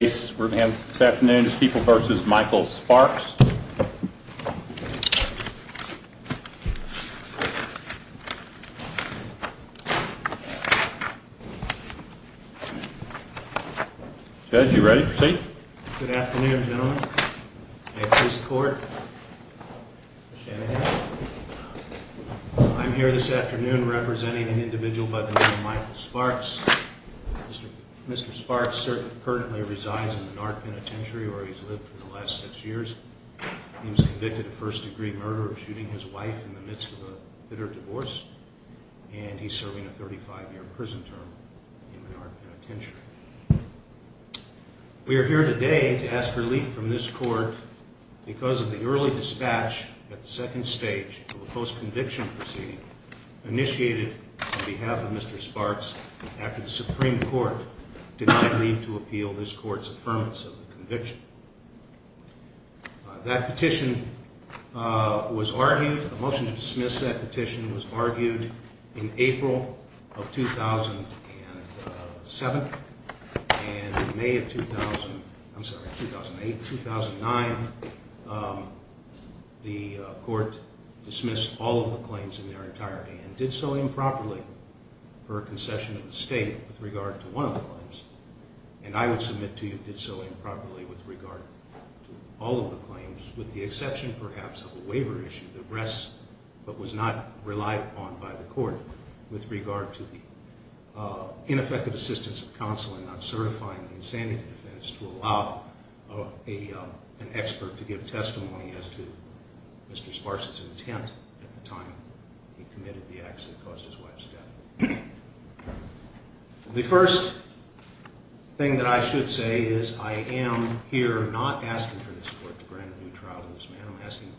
This afternoon is People v. Michael Sparks. Judge, you ready to proceed? Good afternoon, gentlemen. I'm here this afternoon representing an individual by the name of Michael Sparks. Mr. Sparks currently resides in Menard Penitentiary, where he's lived for the last six years. He was convicted of first-degree murder of shooting his wife in the midst of a bitter divorce, and he's serving a 35-year prison term in Menard Penitentiary. We are here today to ask relief from this Court because of the early dispatch at the second stage of a post-conviction proceeding initiated on behalf of Mr. Sparks after the Supreme Court denied leave to appeal this Court's affirmance of the conviction. That petition was argued, a motion to dismiss that petition was argued in April of 2007, and in May of 2008-2009, the Court dismissed all of the claims in their entirety and did so improperly per concession of the State with regard to one of the claims, and I would submit to you did so improperly with regard to all of the claims, with the exception perhaps of a waiver issue that rests but was not relied upon by the Court with regard to the ineffective assistance of counsel in not certifying the insanity defense to allow an expert to give testimony as to Mr. Sparks' intent at the time he committed the acts that caused his wife's death. The first thing that I should say is I am here not asking for this Court to grant a new trial to this man. I'm asking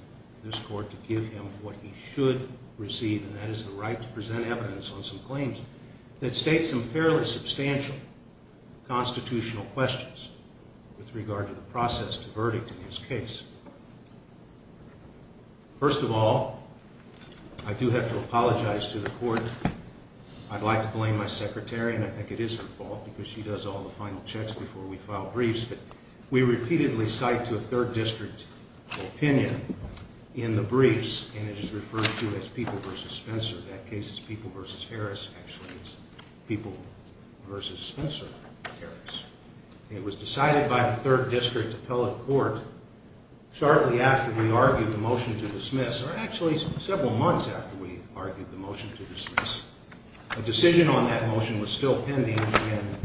this Court to give him what he should receive, and that is the right to present evidence on some claims that state some fairly substantial constitutional questions with regard to the process to verdict in this case. First of all, I do have to apologize to the Court. I'd like to blame my secretary, and I think it is her fault because she does all the final checks before we file briefs, but we repeatedly cite to a third district opinion in the briefs, and it is referred to as People v. Spencer. That case is People v. Harris. Actually, it's People v. Spencer-Harris. It was decided by the third district appellate court shortly after we argued the motion to dismiss, or actually several months after we argued the motion to dismiss. A decision on that motion was still pending, and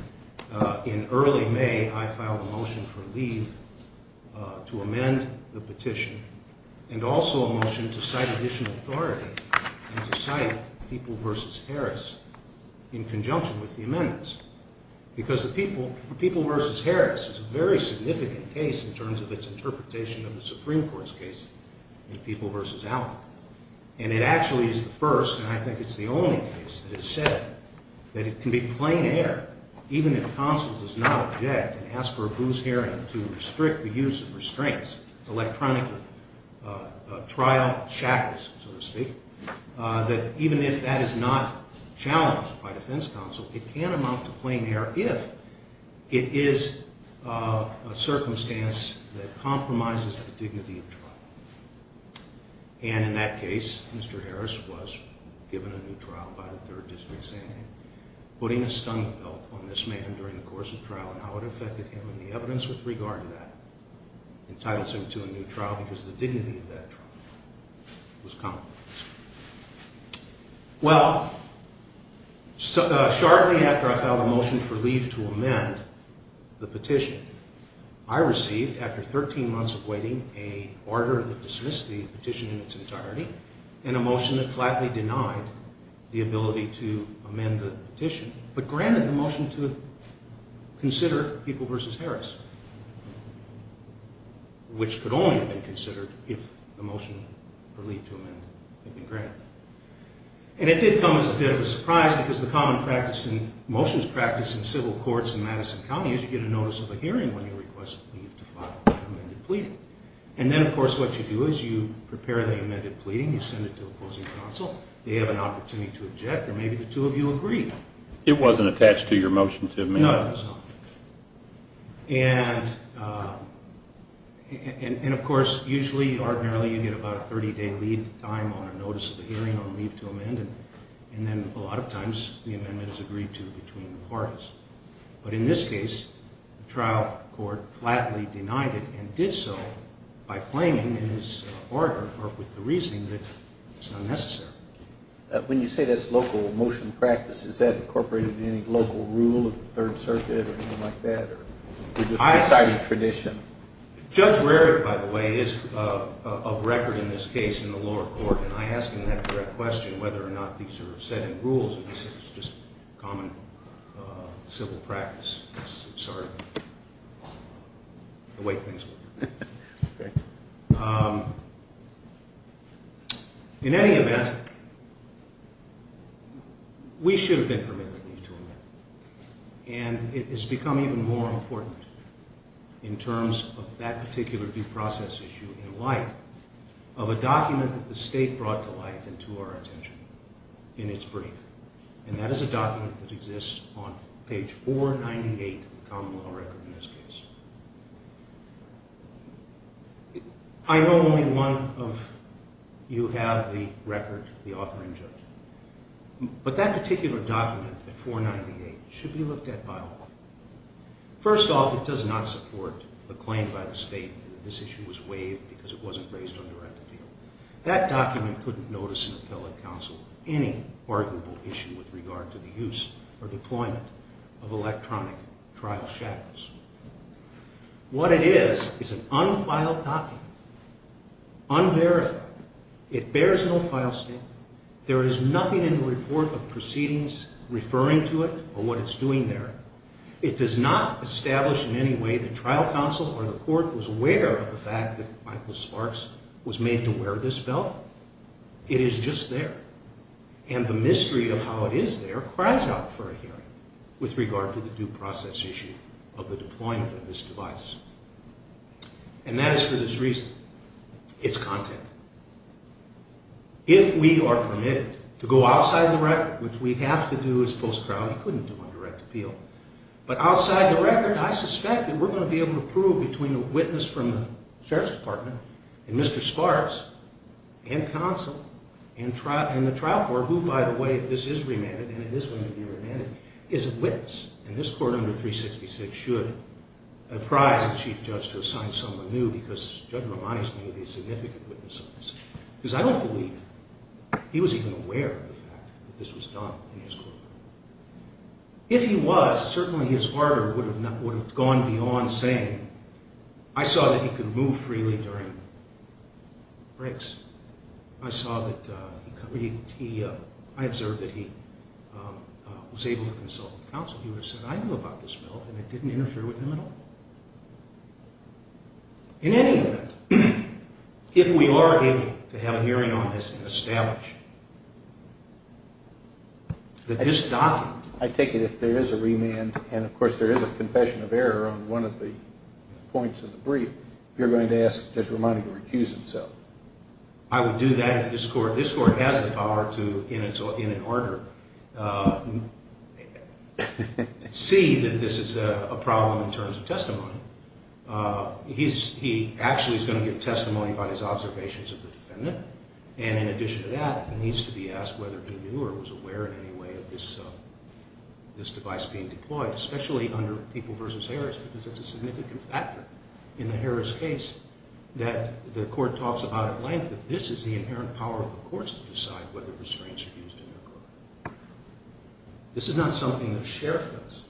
in early May, I filed a motion for leave to amend the petition, and also a motion to cite additional authority and to cite People v. Harris in conjunction with the amendments because the People v. Harris is a very significant case in terms of its interpretation of the Supreme Court's case in People v. Allen, and it actually is the first, and I think it's the only case that has said that it can be plain error, even if counsel does not object and ask for a bruised hearing to restrict the use of restraints, electronically trial shackles, so to speak, that even if that is not challenged by defense counsel, it can amount to plain error if it is a circumstance that compromises the dignity of trial. And in that case, Mr. Harris was given a new trial by the third district's hearing. Putting a stunt belt on this man during the course of trial and how it affected him and the evidence with regard to that entitles him to a new trial because the dignity of that trial was compromised. Well, shortly after I filed a motion for leave to amend the petition, I received, after 13 months of waiting, a order that dismissed the petition in its entirety and a motion that flatly denied the ability to amend the petition but granted the motion to consider People v. Harris, which could only have been considered if the motion for leave to amend had been granted. And it did come as a bit of a surprise because the common practice in motions practice in civil courts in Madison County is you get a notice of a hearing when you request leave to file an amended pleading. And then, of course, what you do is you prepare the amended pleading, you send it to opposing counsel, they have an opportunity to object or maybe the two of you agree. It wasn't attached to your motion to amend? No, it was not. And, of course, usually, ordinarily, you get about a 30-day lead time on a notice of a hearing on leave to amend and then a lot of times the amendment is agreed to between the parties. But in this case, the trial court flatly denied it and did so by claiming in his order or with the reasoning that it's not necessary. When you say that's local motion practice, is that incorporated in any local rule of the Third Circuit or anything like that? Or is it just a decided tradition? Judge Rarick, by the way, is of record in this case in the lower court, and I ask him that direct question whether or not these are set in rules, and he says it's just common civil practice. It's sort of the way things work. In any event, we should have been permitted leave to amend, and it has become even more important in terms of that particular due process issue in light of a document that the state brought to light and to our attention in its brief, and that is a document that exists on page 498 of the common law record in this case. I know only one of you have the record, the author and judge, but that particular document at 498 should be looked at by all. First off, it does not support the claim by the state that this issue was waived because it wasn't raised on direct appeal. That document couldn't notice an appellate counsel any arguable issue with regard to the use or deployment of electronic trial shackles. What it is is an unfiled document, unverified. It bears no file statement. There is nothing in the report of proceedings referring to it or what it's doing there. It does not establish in any way that trial counsel or the court was aware of the fact that Michael Sparks was made to wear this belt. It is just there, and the mystery of how it is there cries out for a hearing with regard to the due process issue of the deployment of this device, and that is for this reason. It's content. If we are permitted to go outside the record, which we have to do as post-trial, we couldn't do on direct appeal, but outside the record, I suspect that we're going to be able to prove between a witness from the Sheriff's Department and Mr. Sparks and counsel and the trial court, who, by the way, if this is remanded, and it is going to be remanded, is a witness. And this court under 366 should prize the chief judge to assign someone new because Judge Romani is going to be a significant witness of this. Because I don't believe he was even aware of the fact that this was done in his courtroom. If he was, certainly his order would have gone beyond saying, I saw that he could move freely during breaks. I observed that he was able to consult with counsel. He would have said, I knew about this bill, and it didn't interfere with him at all. In any event, if we are able to have a hearing on this and establish that this document... I take it if there is a remand, and of course there is a confession of error on one of the points of the brief, you're going to ask Judge Romani to recuse himself. I would do that if this court has the power to, in an order, see that this is a problem in terms of testimony. He actually is going to give testimony about his observations of the defendant. And in addition to that, he needs to be asked whether he knew or was aware in any way of this device being deployed, especially under People v. Harris, because it's a significant factor in the Harris case that the court talks about at length, that this is the inherent power of the courts to decide whether restraints are used in their court. This is not something the Sheriff does.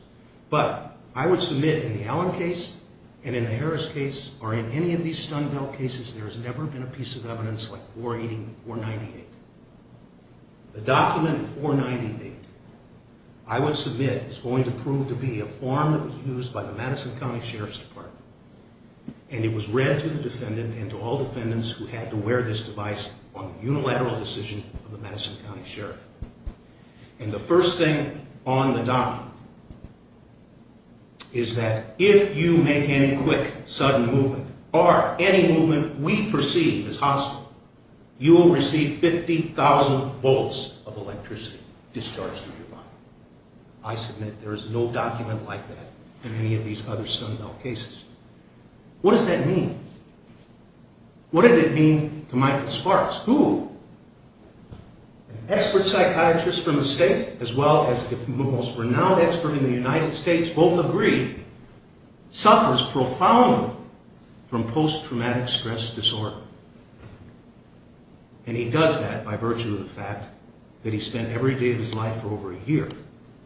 But I would submit in the Allen case and in the Harris case, or in any of these Stun Belt cases, there has never been a piece of evidence like 480 or 498. The document 498 I would submit is going to prove to be a form that was used by the Madison County Sheriff's Department, and it was read to the defendant and to all defendants who had to wear this device on the unilateral decision of the Madison County Sheriff. And the first thing on the document is that if you make any quick, sudden movement, or any movement we perceive as hostile, you will receive 50,000 volts of electricity discharged through your body. I submit there is no document like that in any of these other Stun Belt cases. What does that mean? What did it mean to Michael Sparks, who, an expert psychiatrist from the state, as well as the most renowned expert in the United States, both agree, suffers profoundly from post-traumatic stress disorder. And he does that by virtue of the fact that he spent every day of his life for over a year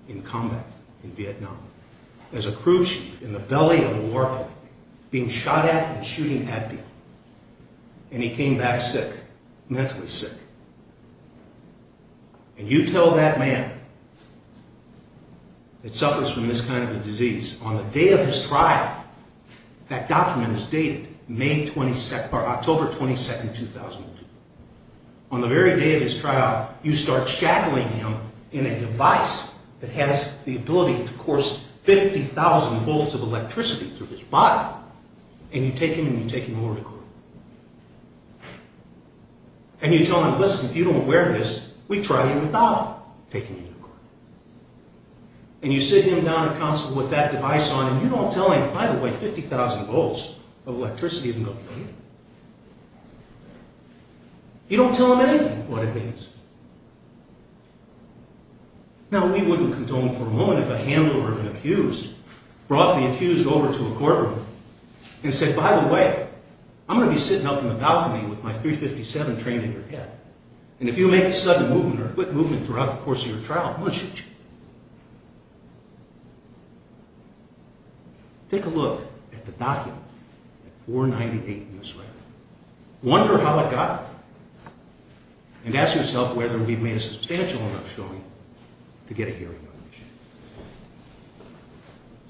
in combat in Vietnam as a crew chief in the belly of a warplane, being shot at and shooting at people. And he came back sick, mentally sick. And you tell that man that suffers from this kind of a disease, on the day of his trial, that document is dated May 22nd, or October 22nd, 2002. On the very day of his trial, you start shackling him in a device that has the ability to course 50,000 volts of electricity through his body, and you take him and you take him over to court. And you tell him, listen, if you don't wear this, we'd try you without taking you to court. And you sit him down at counsel with that device on, and you don't tell him, by the way, 50,000 volts of electricity isn't going to kill you. You don't tell him anything, what it means. Now, we wouldn't condone for a moment if a handler of an accused brought the accused over to a courtroom and said, by the way, I'm going to be sitting up in the balcony with my .357 trained in your head, and if you make a sudden movement or a quick movement throughout the course of your trial, I'm going to shoot you. Take a look at the document, at 498 Newsletter. Wonder how it got there. And ask yourself whether we've made a substantial enough showing to get a hearing on the issue.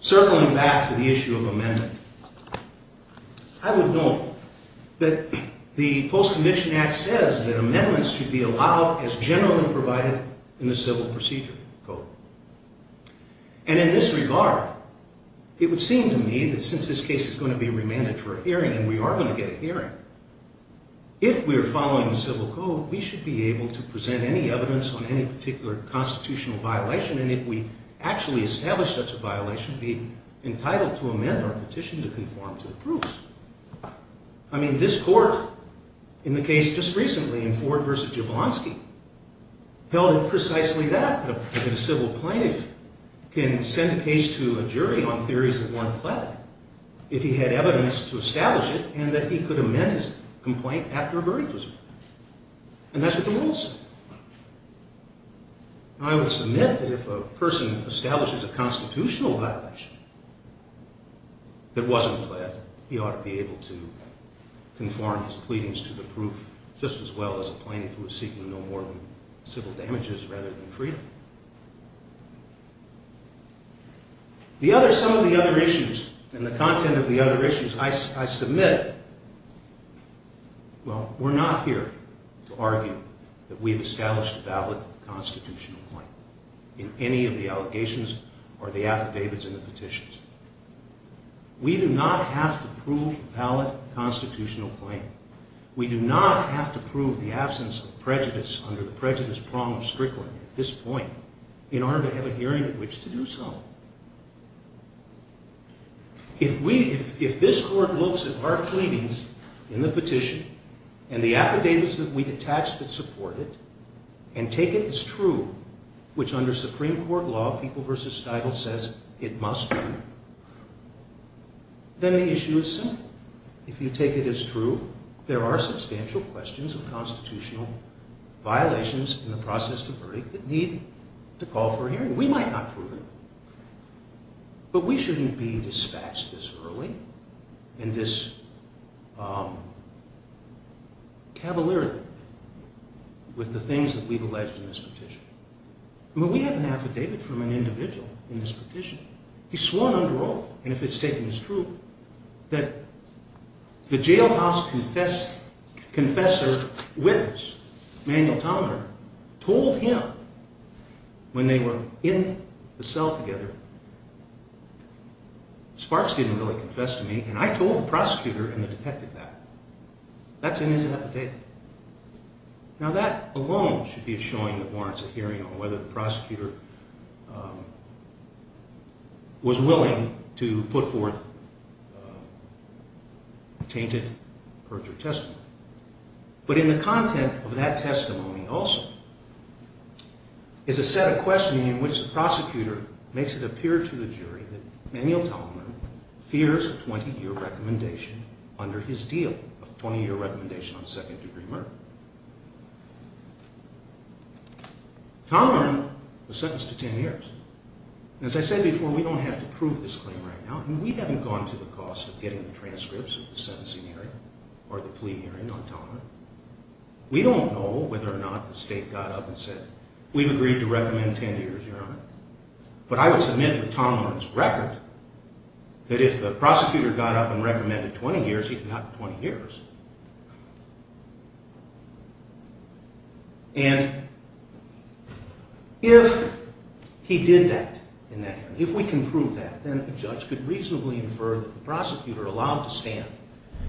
Circling back to the issue of amendment, I would note that the Post-Conviction Act says that amendments should be allowed as generally provided in the Civil Procedure Code. And in this regard, it would seem to me that since this case is going to be remanded for a hearing, and we are going to get a hearing, if we're following the Civil Code, we should be able to present any evidence on any particular constitutional violation, and if we actually establish such a violation, be entitled to amend our petition to conform to the proofs. I mean, this court, in the case just recently, in Ford v. Jablonski, held it precisely that a civil plaintiff can send a case to a jury on theories of one planet if he had evidence to establish it and that he could amend his complaint after a verdict was made. And that's what the rules say. I would submit that if a person establishes a constitutional violation that wasn't planned, he ought to be able to conform his pleadings to the proof just as well as a plaintiff who is seeking no more than civil damages rather than freedom. Some of the other issues and the content of the other issues I submit, Well, we're not here to argue that we've established a valid constitutional claim in any of the allegations or the affidavits and the petitions. We do not have to prove a valid constitutional claim. We do not have to prove the absence of prejudice under the prejudice prong of Strickland at this point in order to have a hearing at which to do so. If this court looks at our pleadings in the petition and the affidavits that we attach that support it and take it as true, which under Supreme Court law, people versus title says it must be, then the issue is simple. If you take it as true, there are substantial questions of constitutional violations in the process to verdict that need to call for a hearing. We might not prove it, but we shouldn't be dispatched this early and this cavalier with the things that we've alleged in this petition. We have an affidavit from an individual in this petition. He swore under oath, and if it's taken as true, that the jailhouse confessor, witness, told him when they were in the cell together, Sparks didn't really confess to me, and I told the prosecutor and the detective that. That's in his affidavit. Now that alone should be a showing that warrants a hearing on whether the prosecutor was willing to put forth a tainted perjury testimony. But in the content of that testimony also is a set of questioning in which the prosecutor makes it appear to the jury that there's a 20-year recommendation under his deal, a 20-year recommendation on second-degree murder. Tomler was sentenced to 10 years. And as I said before, we don't have to prove this claim right now. I mean, we haven't gone to the cost of getting the transcripts of the sentencing hearing or the plea hearing on Tomler. We don't know whether or not the state got up and said, we've agreed to recommend 10 years, Your Honor. But I would submit to Tomler's record that if the prosecutor got up and recommended 20 years, he got 20 years. And if he did that, if we can prove that, then a judge could reasonably infer that the prosecutor allowed to stand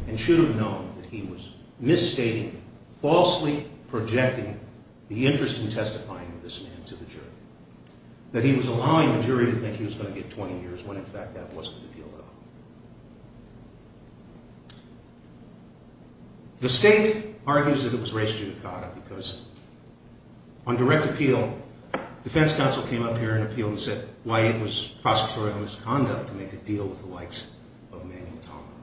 and should have known that he was misstating, falsely projecting the interest in testifying of this man to the jury. That he was allowing the jury to think he was going to get 20 years when, in fact, that wasn't the deal at all. The state argues that it was race judicata because on direct appeal, defense counsel came up here and appealed and said why it was prosecutorial misconduct to make a deal with the likes of Manuel Tomler.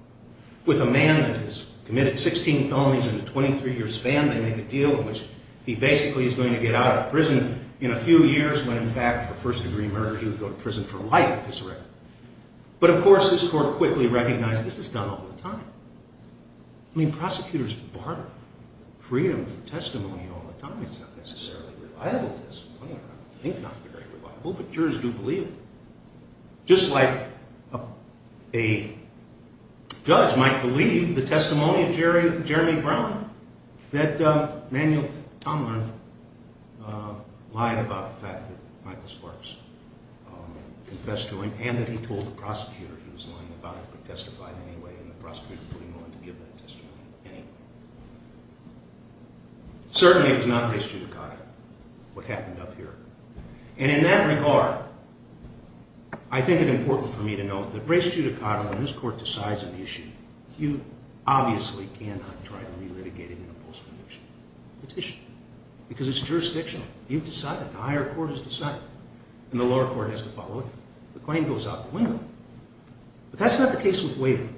With a man that has committed 16 felonies in a 23-year span, they make a deal in which he basically is going to get out of prison in a few years when, in fact, for first-degree murder, he would go to prison for life at this record. But, of course, this Court quickly recognized this is done all the time. I mean, prosecutors bar freedom from testimony all the time. It's not necessarily reliable testimony. I don't think it's very reliable, but jurors do believe it. Just like a judge might believe the testimony of Jeremy Brown, that Manuel Tomler lied about the fact that Michael Sparks confessed to him and that he told the prosecutor he was lying about it but testified anyway and the prosecutor was willing to give that testimony anyway. Certainly, it was not race judicata, what happened up here. And in that regard, I think it's important for me to note that race judicata, when this Court decides an issue, you obviously cannot try to re-litigate it in a post-conviction petition because it's jurisdictional. You've decided, the higher court has decided, and the lower court has to follow it. The claim goes out the window. But that's not the case with waiver.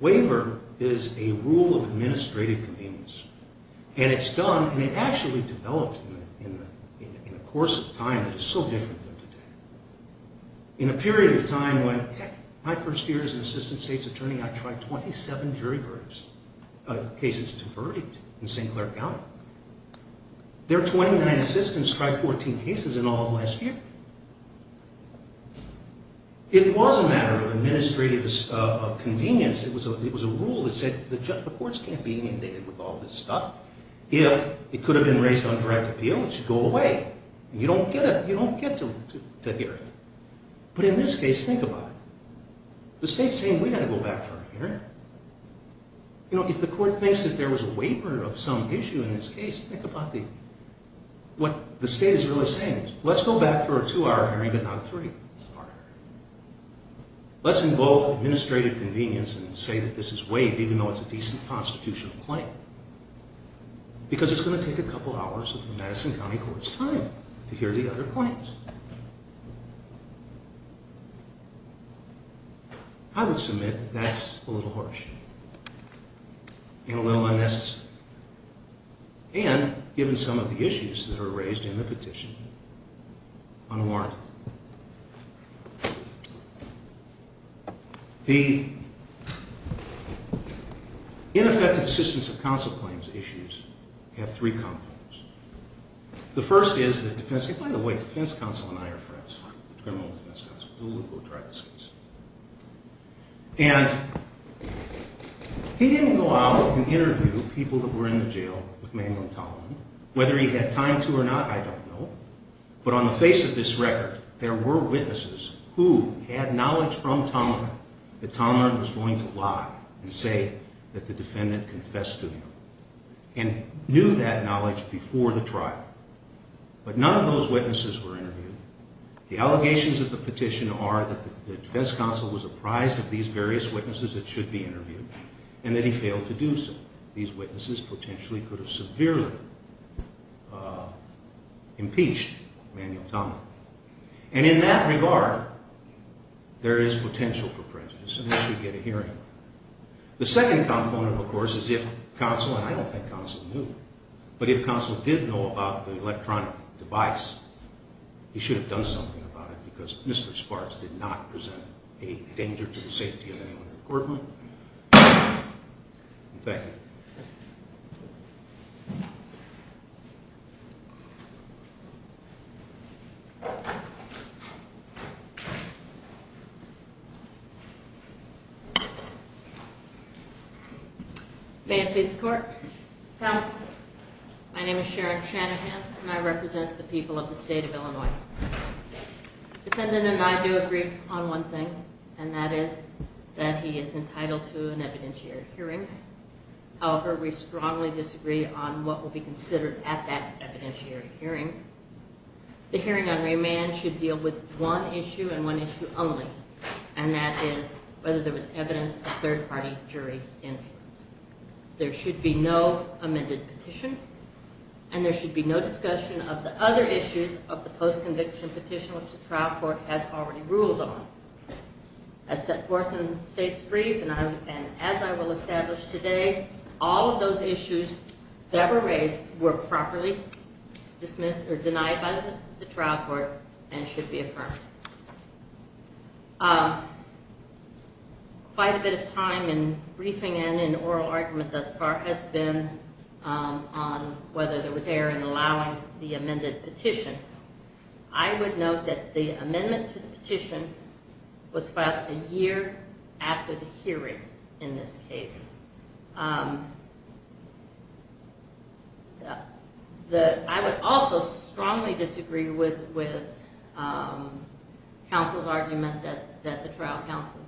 Waiver is a rule of administrative convenience, and it's done, and it actually developed in a course of time that is so different than today. In a period of time when my first year as an assistant state's attorney, I tried 27 jury cases to verdict in St. Clair County. Their 29 assistants tried 14 cases in all of last year. It was a matter of administrative convenience. It was a rule that said the courts can't be inundated with all this stuff. If it could have been raised on direct appeal, it should go away. You don't get to hear it. But in this case, think about it. The state's saying, we've got to go back for a hearing. If the court thinks that there was a waiver of some issue in this case, think about what the state is really saying. Let's go back for a two-hour hearing but not a three-hour hearing. Let's invoke administrative convenience and say that this is waived even though it's a decent constitutional claim because it's going to take a couple hours of the Madison County Court's time to hear the other claims. I would submit that's a little harsh and a little unnecessary. And, given some of the issues that are raised in the petition, one more. The ineffective assistance of counsel claims issues have three components. The first is the defense counsel. By the way, the defense counsel and I are friends. The criminal defense counsel. We both tried this case. And he didn't go out and interview people that were in the jail with Manuel Tolman. Whether he had time to or not, I don't know. But on the face of this record, there were witnesses who had knowledge from Tolman that Tolman was going to lie and say that the defendant confessed to him and knew that knowledge before the trial. But none of those witnesses were interviewed. The allegations of the petition are that the defense counsel was apprised of these various witnesses that should be interviewed and that he failed to do so. These witnesses potentially could have severely impeached Manuel Tolman. And in that regard, there is potential for prejudice and they should get a hearing. The second component, of course, is if counsel, and I don't think counsel knew, but if counsel did know about the electronic device, he should have done something about it because Mr. Sparks did not present a danger to the safety of anyone in the courtroom. Thank you. May I please report? Counsel. My name is Sharon Shanahan, and I represent the people of the state of Illinois. The defendant and I do agree on one thing, and that is that he is entitled to an evidentiary hearing. However, we strongly disagree on what will be considered at that evidentiary hearing. The hearing on remand should deal with one issue and one issue only, and that is whether there was evidence of third-party jury influence. There should be no amended petition, and there should be no discussion of the other issues of the post-conviction petition, which the trial court has already ruled on. As set forth in the state's brief and as I will establish today, all of those issues that were raised were properly dismissed or denied by the trial court and should be affirmed. Quite a bit of time in briefing and in oral argument thus far has been on whether there was error in allowing the amended petition. I would note that the amendment to the petition was filed a year after the hearing in this case. I would also strongly disagree with counsel's argument that the trial counsel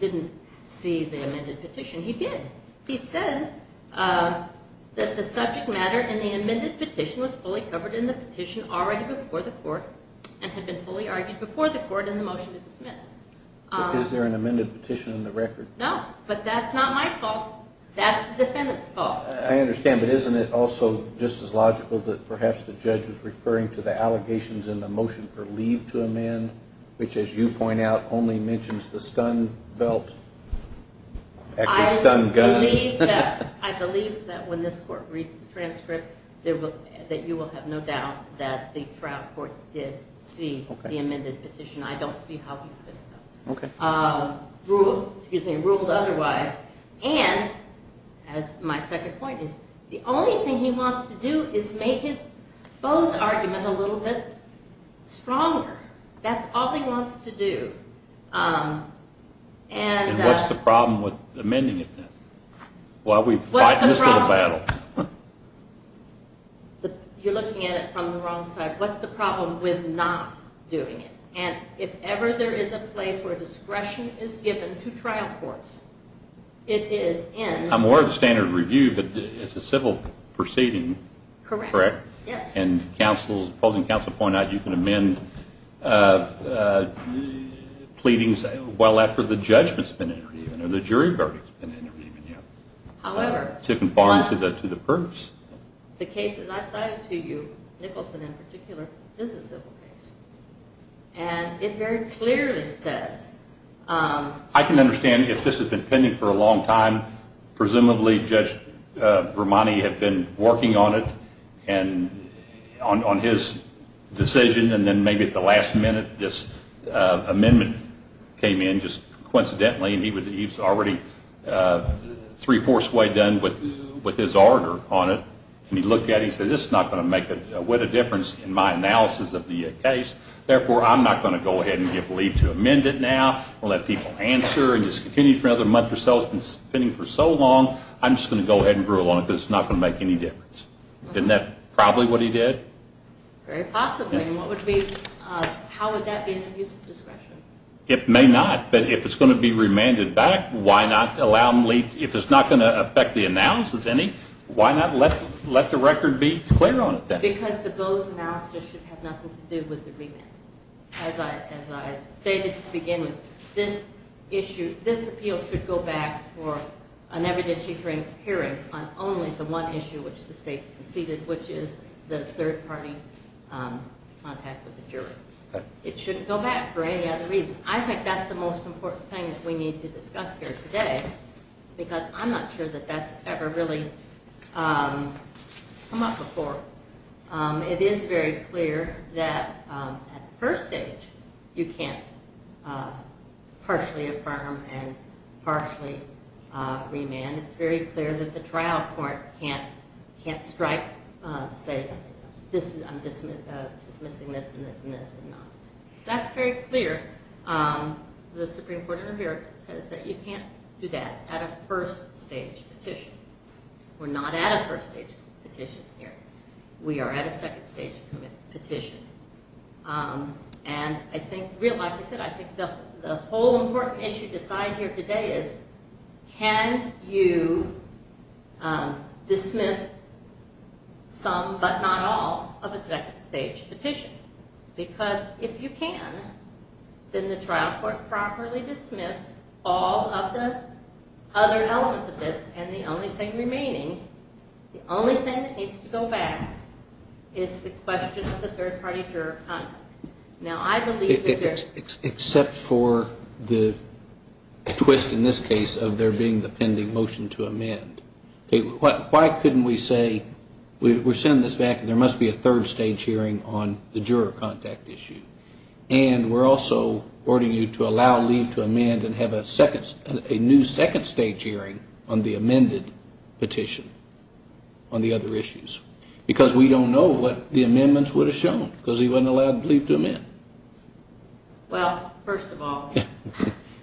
didn't see the amended petition. He did. He said that the subject matter in the amended petition was fully covered in the petition already before the court and had been fully argued before the court in the motion to dismiss. But is there an amended petition in the record? No, but that's not my fault. That's the defendant's fault. I understand, but isn't it also just as logical that perhaps the judge was referring to the allegations in the motion for leave to amend, which as you point out only mentions the stun belt, actually stun gun? I believe that when this court reads the transcript, that you will have no doubt that the trial court did see the amended petition. I don't see how he could have ruled otherwise. And, as my second point is, the only thing he wants to do is make Bo's argument a little bit stronger. That's all he wants to do. And what's the problem with amending it then? Why are we fighting this little battle? You're looking at it from the wrong side. What's the problem with not doing it? And if ever there is a place where discretion is given to trial courts, it is in. I'm aware of the standard review, but it's a civil proceeding, correct? Correct, yes. And the opposing counsel pointed out you can amend pleadings well after the judgment's been entered even, or the jury verdict's been entered even yet, to conform to the proofs. The case that I've cited to you, Nicholson in particular, is a civil case. And it very clearly says... I can understand if this has been pending for a long time. Presumably Judge Brumani had been working on it and on his decision, and then maybe at the last minute this amendment came in, just coincidentally, and he was already three-fourths way done with his order on it. And he looked at it and he said, this is not going to make a whit of difference in my analysis of the case. Therefore, I'm not going to go ahead and give leave to amend it now or let people answer and discontinue it for another month or so. It's been pending for so long, I'm just going to go ahead and gruel on it because it's not going to make any difference. Isn't that probably what he did? Very possibly. How would that be an abuse of discretion? It may not. But if it's going to be remanded back, why not allow him leave? If it's not going to affect the analysis any, why not let the record be clear on it then? Because the Bowes analysis should have nothing to do with the remand. As I stated to begin with, this appeal should go back for an evidentiary hearing on only the one issue which the state conceded, which is the third-party contact with the jury. It shouldn't go back for any other reason. I think that's the most important thing that we need to discuss here today because I'm not sure that that's ever really come up before. It is very clear that at the first stage you can't partially affirm and partially remand. It's very clear that the trial court can't strike, say, I'm dismissing this and this and this and not. That's very clear. The Supreme Court in America says that you can't do that at a first-stage petition. We're not at a first-stage petition here. We are at a second-stage petition. And I think, like I said, I think the whole important issue to decide here today is can you dismiss some but not all of a second-stage petition? Because if you can, then the trial court properly dismissed all of the other elements of this and the only thing remaining, the only thing that needs to go back, is the question of the third-party juror contact. Now, I believe that there's... Except for the twist in this case of there being the pending motion to amend. Why couldn't we say we're sending this back and there must be a third-stage hearing on the juror contact issue? And we're also ordering you to allow leave to amend and have a new second-stage hearing on the amended petition on the other issues. Because we don't know what the amendments would have shown because he wasn't allowed leave to amend. Well, first of all...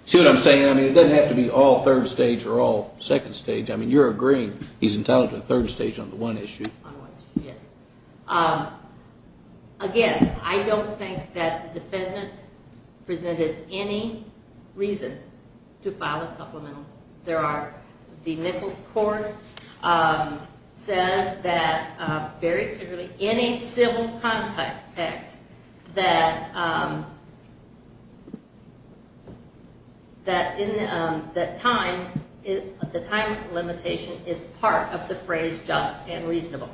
See what I'm saying? I mean, it doesn't have to be all third-stage or all second-stage. I mean, you're agreeing he's entitled to a third-stage on the one issue. On one issue, yes. Again, I don't think that the defendant presented any reason to file a supplemental. There are... The Nichols Court says that very clearly, in a civil context, that the time limitation is part of the phrase just and reasonable.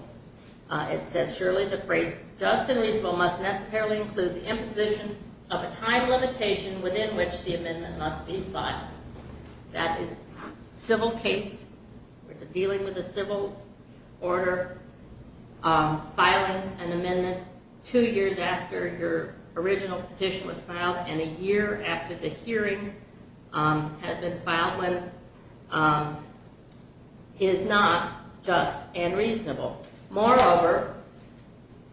It says, Surely the phrase just and reasonable must necessarily include the imposition of a time limitation within which the amendment must be filed. That is, civil case, dealing with a civil order, filing an amendment two years after your original petition was filed and a year after the hearing has been filed when it is not just and reasonable. Moreover,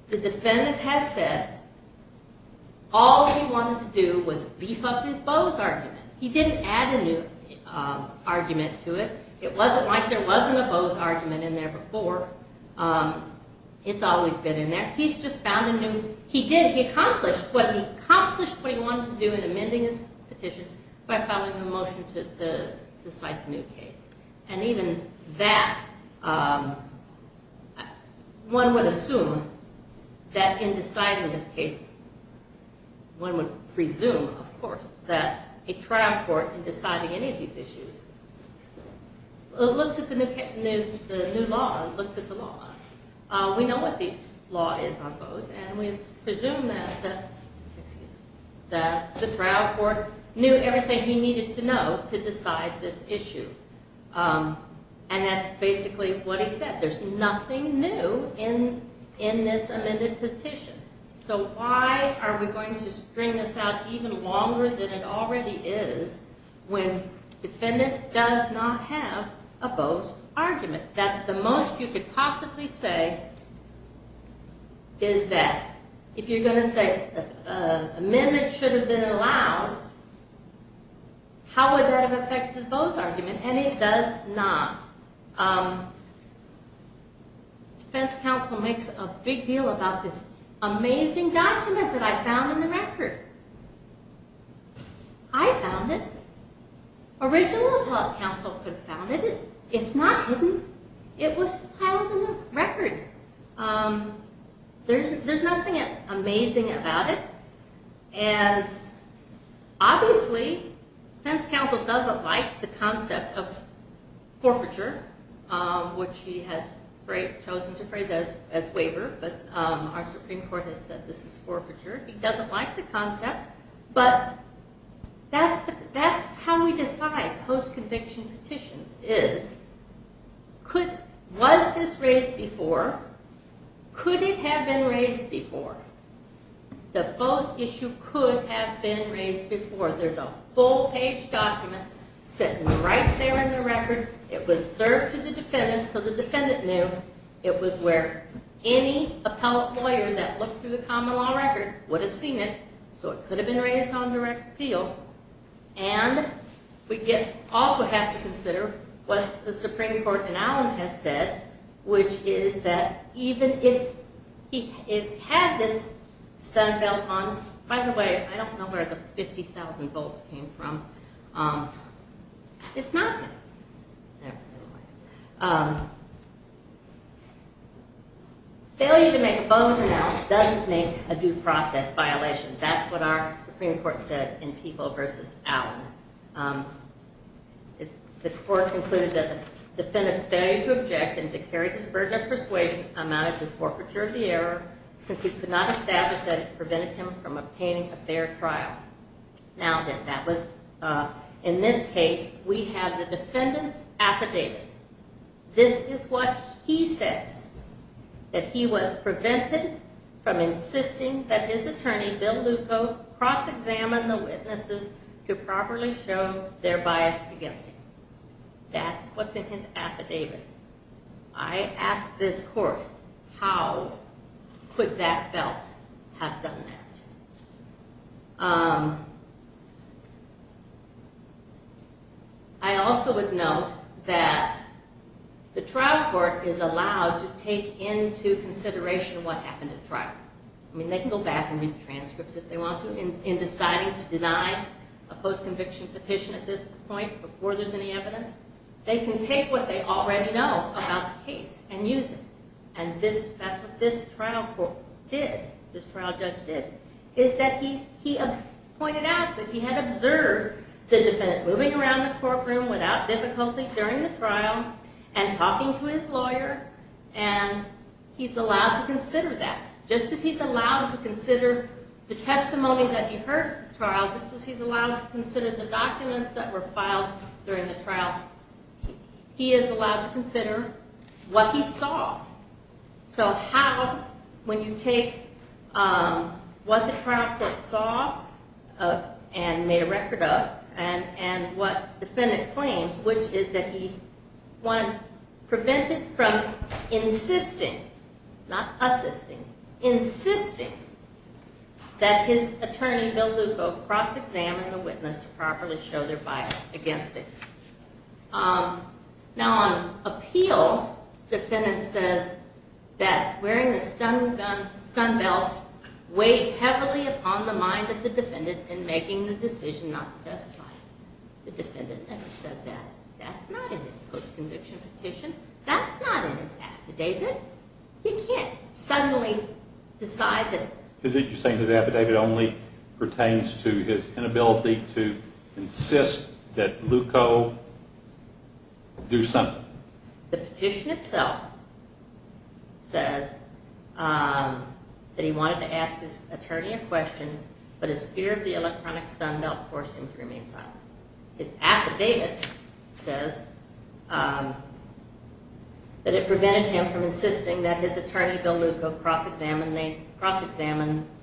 the defendant has said all he wanted to do was beef up his Bowes argument. He didn't add a new argument to it. It wasn't like there wasn't a Bowes argument in there before. It's always been in there. He's just found a new... He did. He accomplished what he wanted to do in amending his petition by filing a motion to cite the new case. Even that, one would assume that in deciding this case, one would presume, of course, that a trial court in deciding any of these issues looks at the new law and looks at the law. We know what the law is on Bowes, and we presume that the trial court knew everything he needed to know to decide this issue. And that's basically what he said. There's nothing new in this amended petition. So why are we going to string this out even longer than it already is when the defendant does not have a Bowes argument? That's the most you could possibly say, is that if you're going to say an amendment should have been allowed, how would that have affected Bowes' argument? And it does not. Defense counsel makes a big deal about this amazing document that I found in the record. I found it. Original appellate counsel could have found it. It's not hidden. It was filed in the record. There's nothing amazing about it. Obviously, defense counsel doesn't like the concept of forfeiture, which he has chosen to phrase as waiver, but our Supreme Court has said this is forfeiture. He doesn't like the concept. But that's how we decide post-conviction petitions, is was this raised before? Could it have been raised before? The Bowes issue could have been raised before. There's a full-page document sitting right there in the record. It was served to the defendant so the defendant knew. It was where any appellate lawyer that looked through the common law record would have seen it, so it could have been raised on direct appeal. And we also have to consider what the Supreme Court in Allen has said, which is that even if he had this stun belt on, by the way, I don't know where the 50,000 volts came from. It's not good. Failure to make a Bowes announcement doesn't make a due process violation. That's what our Supreme Court said in Peeble v. Allen. The court concluded that the defendant's failure to object and to carry his burden of persuasion amounted to forfeiture of the error since he could not establish that it prevented him from obtaining a fair trial. Now, in this case, we have the defendant's affidavit. This is what he says, that he was prevented from insisting that his attorney, Bill Lucco, cross-examine the witnesses to properly show their bias against him. That's what's in his affidavit. I ask this court, how could that belt have done that? I also would note that the trial court is allowed to take into consideration what happened at trial. They can go back and read the transcripts if they want to in deciding to deny a post-conviction petition at this point before there's any evidence. They can take what they already know about the case and use it. That's what this trial court did, this trial judge did. He pointed out that he had observed the defendant moving around the courtroom without difficulty during the trial and talking to his lawyer. He's allowed to consider that. Just as he's allowed to consider the testimony that he heard at the trial, just as he's allowed to consider the documents that were filed during the trial, he is allowed to consider what he saw. So how, when you take what the trial court saw and made a record of and what the defendant claimed, which is that he prevented from insisting, not assisting, insisting that his attorney Bill Lucco cross-examine the witness to properly show their bias against it. Now on appeal, the defendant says that wearing the stun belt weighed heavily upon the mind of the defendant in making the decision not to testify. The defendant never said that. That's not in this post-conviction petition. That's not in this affidavit. You can't suddenly decide that... Is it you're saying that the affidavit only pertains to his inability to insist that Lucco do something? The petition itself says that he wanted to ask his attorney a question, but his fear of the electronic stun belt forced him to remain silent. His affidavit says that it prevented him from insisting that his attorney Bill Lucco cross-examine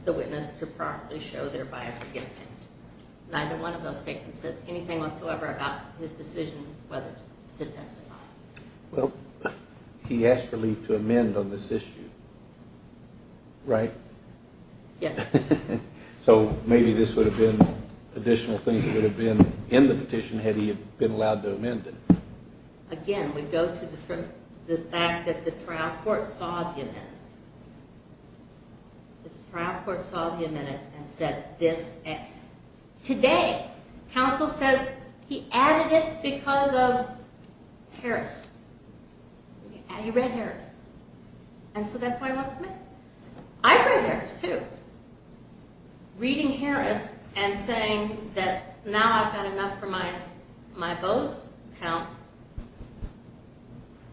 the witness to properly show their bias against him. Neither one of those statements says anything whatsoever about his decision whether to testify. Well, he asked relief to amend on this issue, right? Yes. So maybe this would have been additional things that would have been in the petition had he been allowed to amend it. Again, we go to the fact that the trial court saw the amendment. The trial court saw the amendment and said this... Today, counsel says he added it because of Harris. He read Harris. And so that's why he wants to amend it. I've read Harris, too. Reading Harris and saying that now I've had enough for my Bose count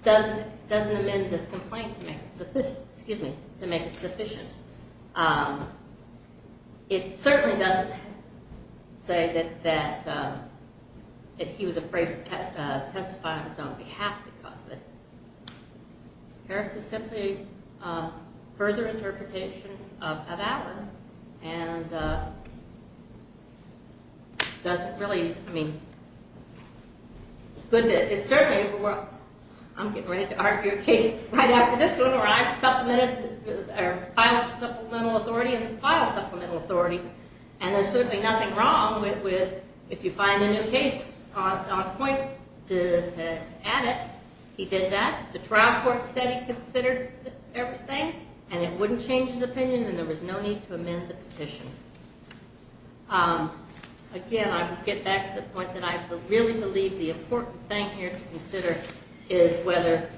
doesn't amend this complaint to make it sufficient. It certainly doesn't say that he was afraid to testify on his own behalf because of it. Harris is simply a further interpretation of Allen and doesn't really... I mean, it's good that it's certainly... I'm getting ready to argue a case right after this one where I have supplemental authority and file supplemental authority. And there's certainly nothing wrong with if you find a new case on point to add it. He did that. The trial court said he considered everything, and it wouldn't change his opinion, and there was no need to amend the petition. Again, I would get back to the point that I really believe the important thing here to consider is whether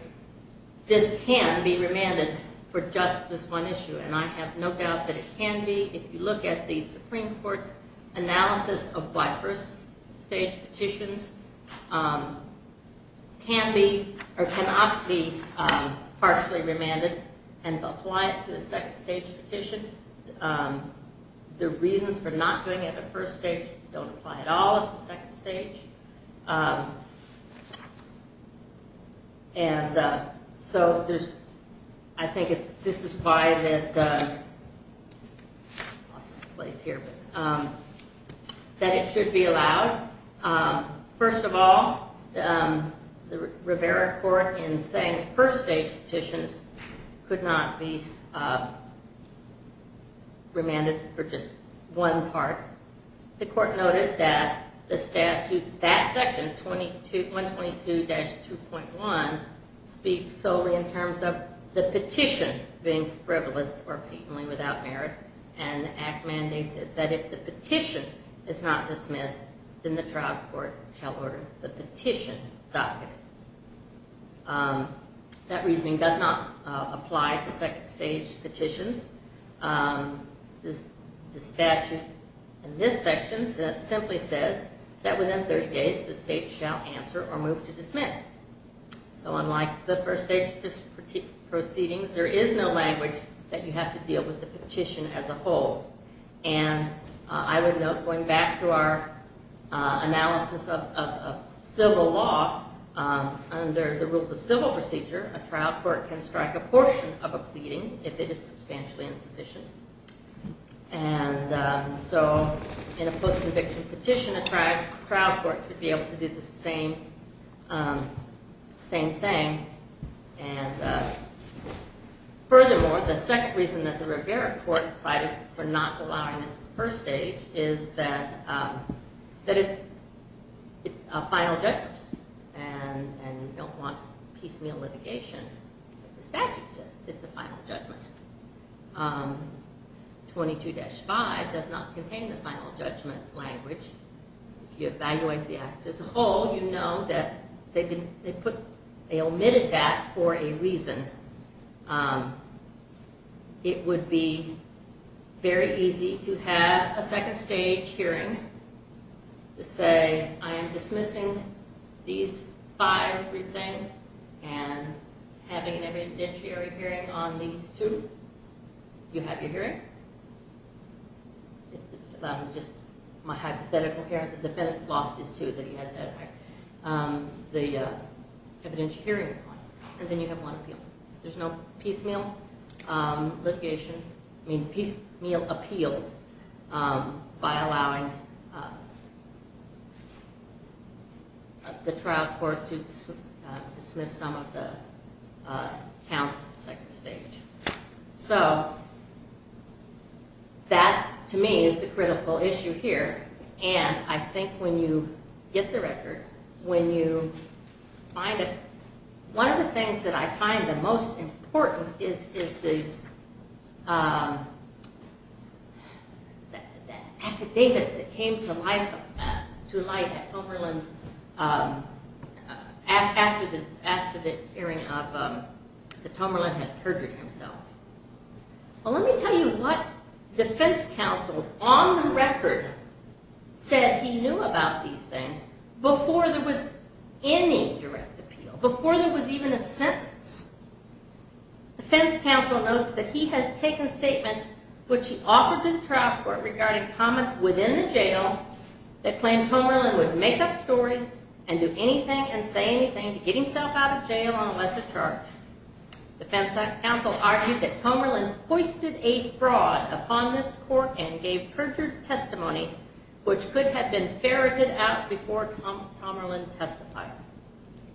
this can be remanded for just this one issue, and I have no doubt that it can be. If you look at the Supreme Court's analysis of why first-stage petitions can be or cannot be partially remanded and apply it to the second-stage petition, the reasons for not doing it at the first stage don't apply at all at the second stage. And so I think this is why that it should be allowed. First of all, the Rivera court in saying first-stage petitions could not be remanded for just one part. The court noted that the statute, that section, 122-2.1, speaks solely in terms of the petition being frivolous or patently without merit, and the act mandates that if the petition is not dismissed, then the trial court shall order the petition docketed. That reasoning does not apply to second-stage petitions. The statute in this section simply says that within 30 days the state shall answer or move to dismiss. So unlike the first-stage proceedings, there is no language that you have to deal with the petition as a whole. And I would note going back to our analysis of civil law, under the rules of civil procedure, a trial court can strike a portion of a pleading if it is substantially insufficient. And so in a post-conviction petition, a trial court could be able to do the same thing. And furthermore, the second reason that the Rivera court decided for not allowing this in the first stage is that it's a final judgment, and you don't want piecemeal litigation. The statute says it's a final judgment. 22-5 does not contain the final judgment language. If you evaluate the act as a whole, you know that they omitted that for a reason. It would be very easy to have a second-stage hearing to say, I am dismissing these five briefings and having an evidentiary hearing on these two. Do you have your hearing? Just my hypothetical here. The defendant lost his, too, that he had the evidentiary hearing. And then you have one appeal. There's no piecemeal litigation. I mean, piecemeal appeals by allowing the trial court to dismiss some of the counts in the second stage. So that, to me, is the critical issue here. And I think when you get the record, when you find it, one of the things that I find the most important is the affidavits that came to light after the hearing that Tomerlin had perjured himself. Well, let me tell you what defense counsel on the record said he knew about these things before there was any direct appeal, before there was even a sentence. Defense counsel notes that he has taken statements which he offered to the trial court regarding comments within the jail that claimed Tomerlin would make up stories and do anything and say anything to get himself out of jail unless a charge. Defense counsel argued that Tomerlin hoisted a fraud upon this court and gave perjured testimony, which could have been ferreted out before Tomerlin testified.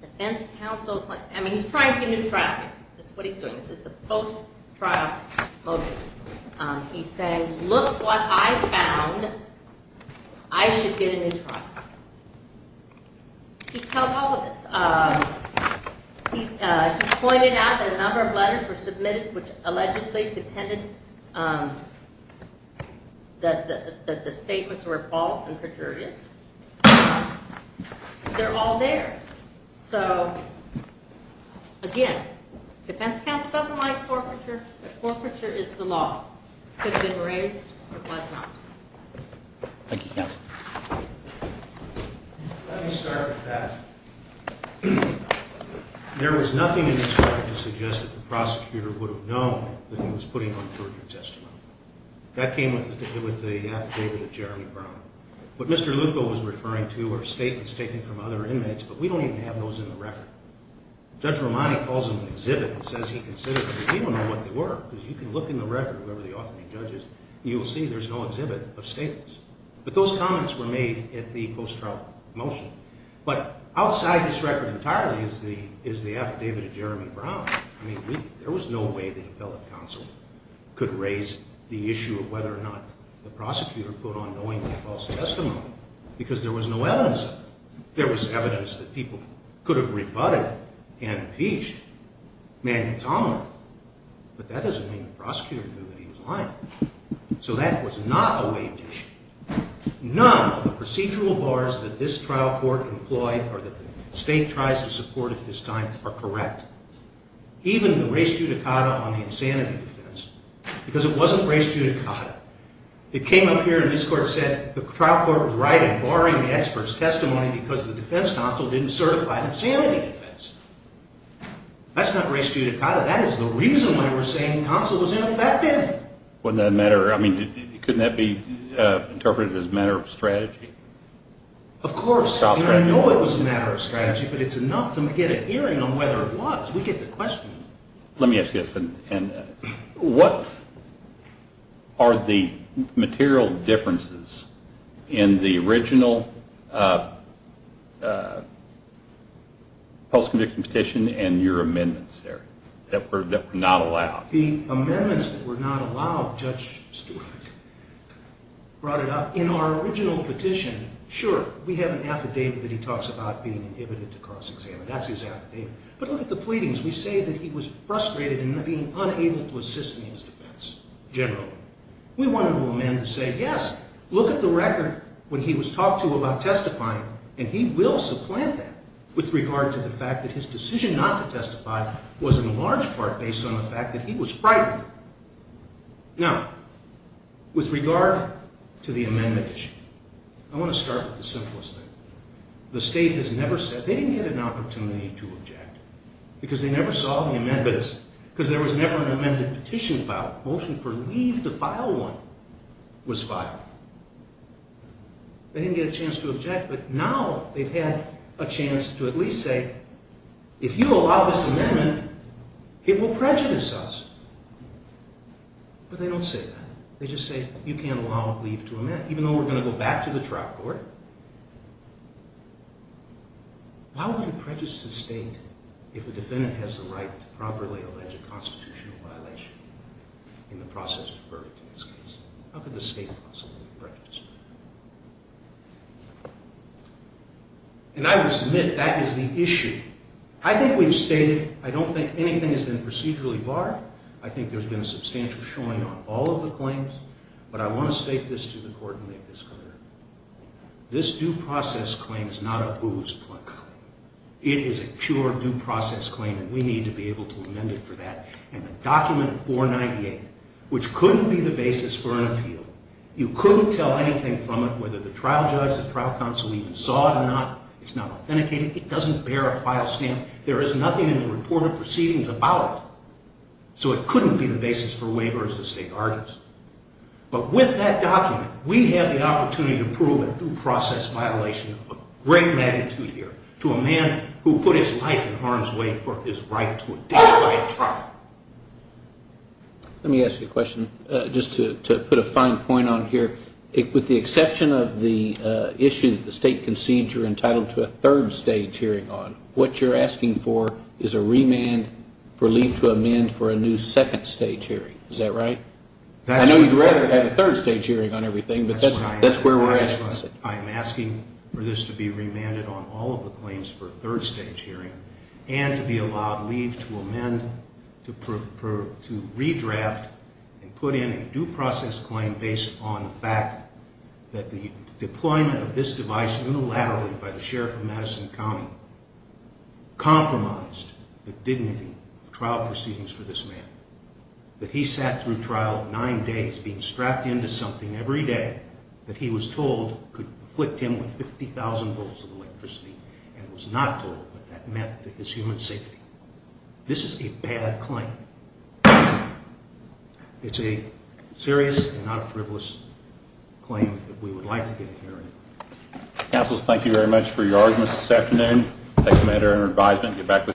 Defense counsel, I mean, he's trying to get new traffic. That's what he's doing. This is the post-trial motion. He's saying, look what I found. I should get a new trial. He tells all of this. He pointed out that a number of letters were submitted which allegedly pretended that the statements were false and perjurious. They're all there. So, again, defense counsel doesn't like forfeiture, but forfeiture is the law. It could have been raised or it was not. Thank you, counsel. Let me start with that. There was nothing in this trial to suggest that the prosecutor would have known that he was putting on perjured testimony. That came with the affidavit of Jeremy Brown. What Mr. Lucco was referring to are statements taken from other inmates, but we don't even have those in the record. Judge Romani calls them an exhibit and says he considers them. We don't know what they were because you can look in the record, whoever the offending judge is, and you will see there's no exhibit of statements. But those comments were made at the post-trial motion. But outside this record entirely is the affidavit of Jeremy Brown. I mean, there was no way the appellate counsel could raise the issue of whether or not the prosecutor put on knowingly false testimony because there was no evidence of it. There was evidence that people could have rebutted and impeached Manny Tomlin, but that doesn't mean the prosecutor knew that he was lying. So that was not a waived issue. None of the procedural bars that this trial court employed or that the state tries to support at this time are correct. Even the res judicata on the insanity defense, because it wasn't res judicata. It came up here and this court said the trial court was right in barring the expert's testimony because the defense counsel didn't certify the insanity defense. That's not res judicata. That is the reason why we're saying the counsel was ineffective. Wouldn't that matter? I mean, couldn't that be interpreted as a matter of strategy? Of course. And I know it was a matter of strategy, but it's enough to get a hearing on whether it was. We get the question. Let me ask you this. What are the material differences in the original post-conviction petition and your amendments there that were not allowed? The amendments that were not allowed, Judge Stewart brought it up. In our original petition, sure, we have an affidavit that he talks about being inhibited to cross-examine. That's his affidavit. But look at the pleadings. We say that he was frustrated in being unable to assist in his defense generally. We wanted to amend to say, yes, look at the record when he was talked to about testifying, and he will supplant that with regard to the fact that his decision not to testify was in large part based on the fact that he was frightened. Now, with regard to the amendment issue, I want to start with the simplest thing. The state has never said they didn't get an opportunity to object because they never saw the amendments because there was never an amended petition filed. The motion for leave to file one was filed. They didn't get a chance to object, but now they've had a chance to at least say, okay, if you allow this amendment, it will prejudice us. But they don't say that. They just say you can't allow leave to amend, even though we're going to go back to the trial court. Why would it prejudice the state if a defendant has the right to properly allege a constitutional violation in the process of verdict in this case? How could the state possibly prejudice? And I would submit that is the issue. I think we've stated, I don't think anything has been procedurally barred. I think there's been a substantial showing on all of the claims. But I want to state this to the court and make this clear. This due process claim is not a booze plug. It is a pure due process claim, and we need to be able to amend it for that. And the document 498, which couldn't be the basis for an appeal, you couldn't tell anything from it, whether the trial judge, the trial counsel even saw it or not. It's not authenticated. It doesn't bear a file stamp. There is nothing in the report of proceedings about it. So it couldn't be the basis for a waiver, as the state argues. But with that document, we have the opportunity to prove a due process violation of a great magnitude here to a man who put his life in harm's way for his right to a death by a trial. Let me ask you a question just to put a fine point on here. With the exception of the issue that the state concedes you're entitled to a third stage hearing on, what you're asking for is a remand for leave to amend for a new second stage hearing. Is that right? I know you'd rather have a third stage hearing on everything, but that's where we're at. I am asking for this to be remanded on all of the claims for a third stage hearing and to be allowed leave to amend to redraft and put in a due process claim based on the fact that the deployment of this device unilaterally by the sheriff of Madison County compromised the dignity of trial proceedings for this man, that he sat through trial nine days being strapped into something every day that he was told could afflict him with 50,000 volts of electricity and was not told what that meant to his human safety. This is a bad claim. It's a serious and not a frivolous claim that we would like to get a hearing. Councils, thank you very much for your arguments this afternoon. I take the matter under advisement.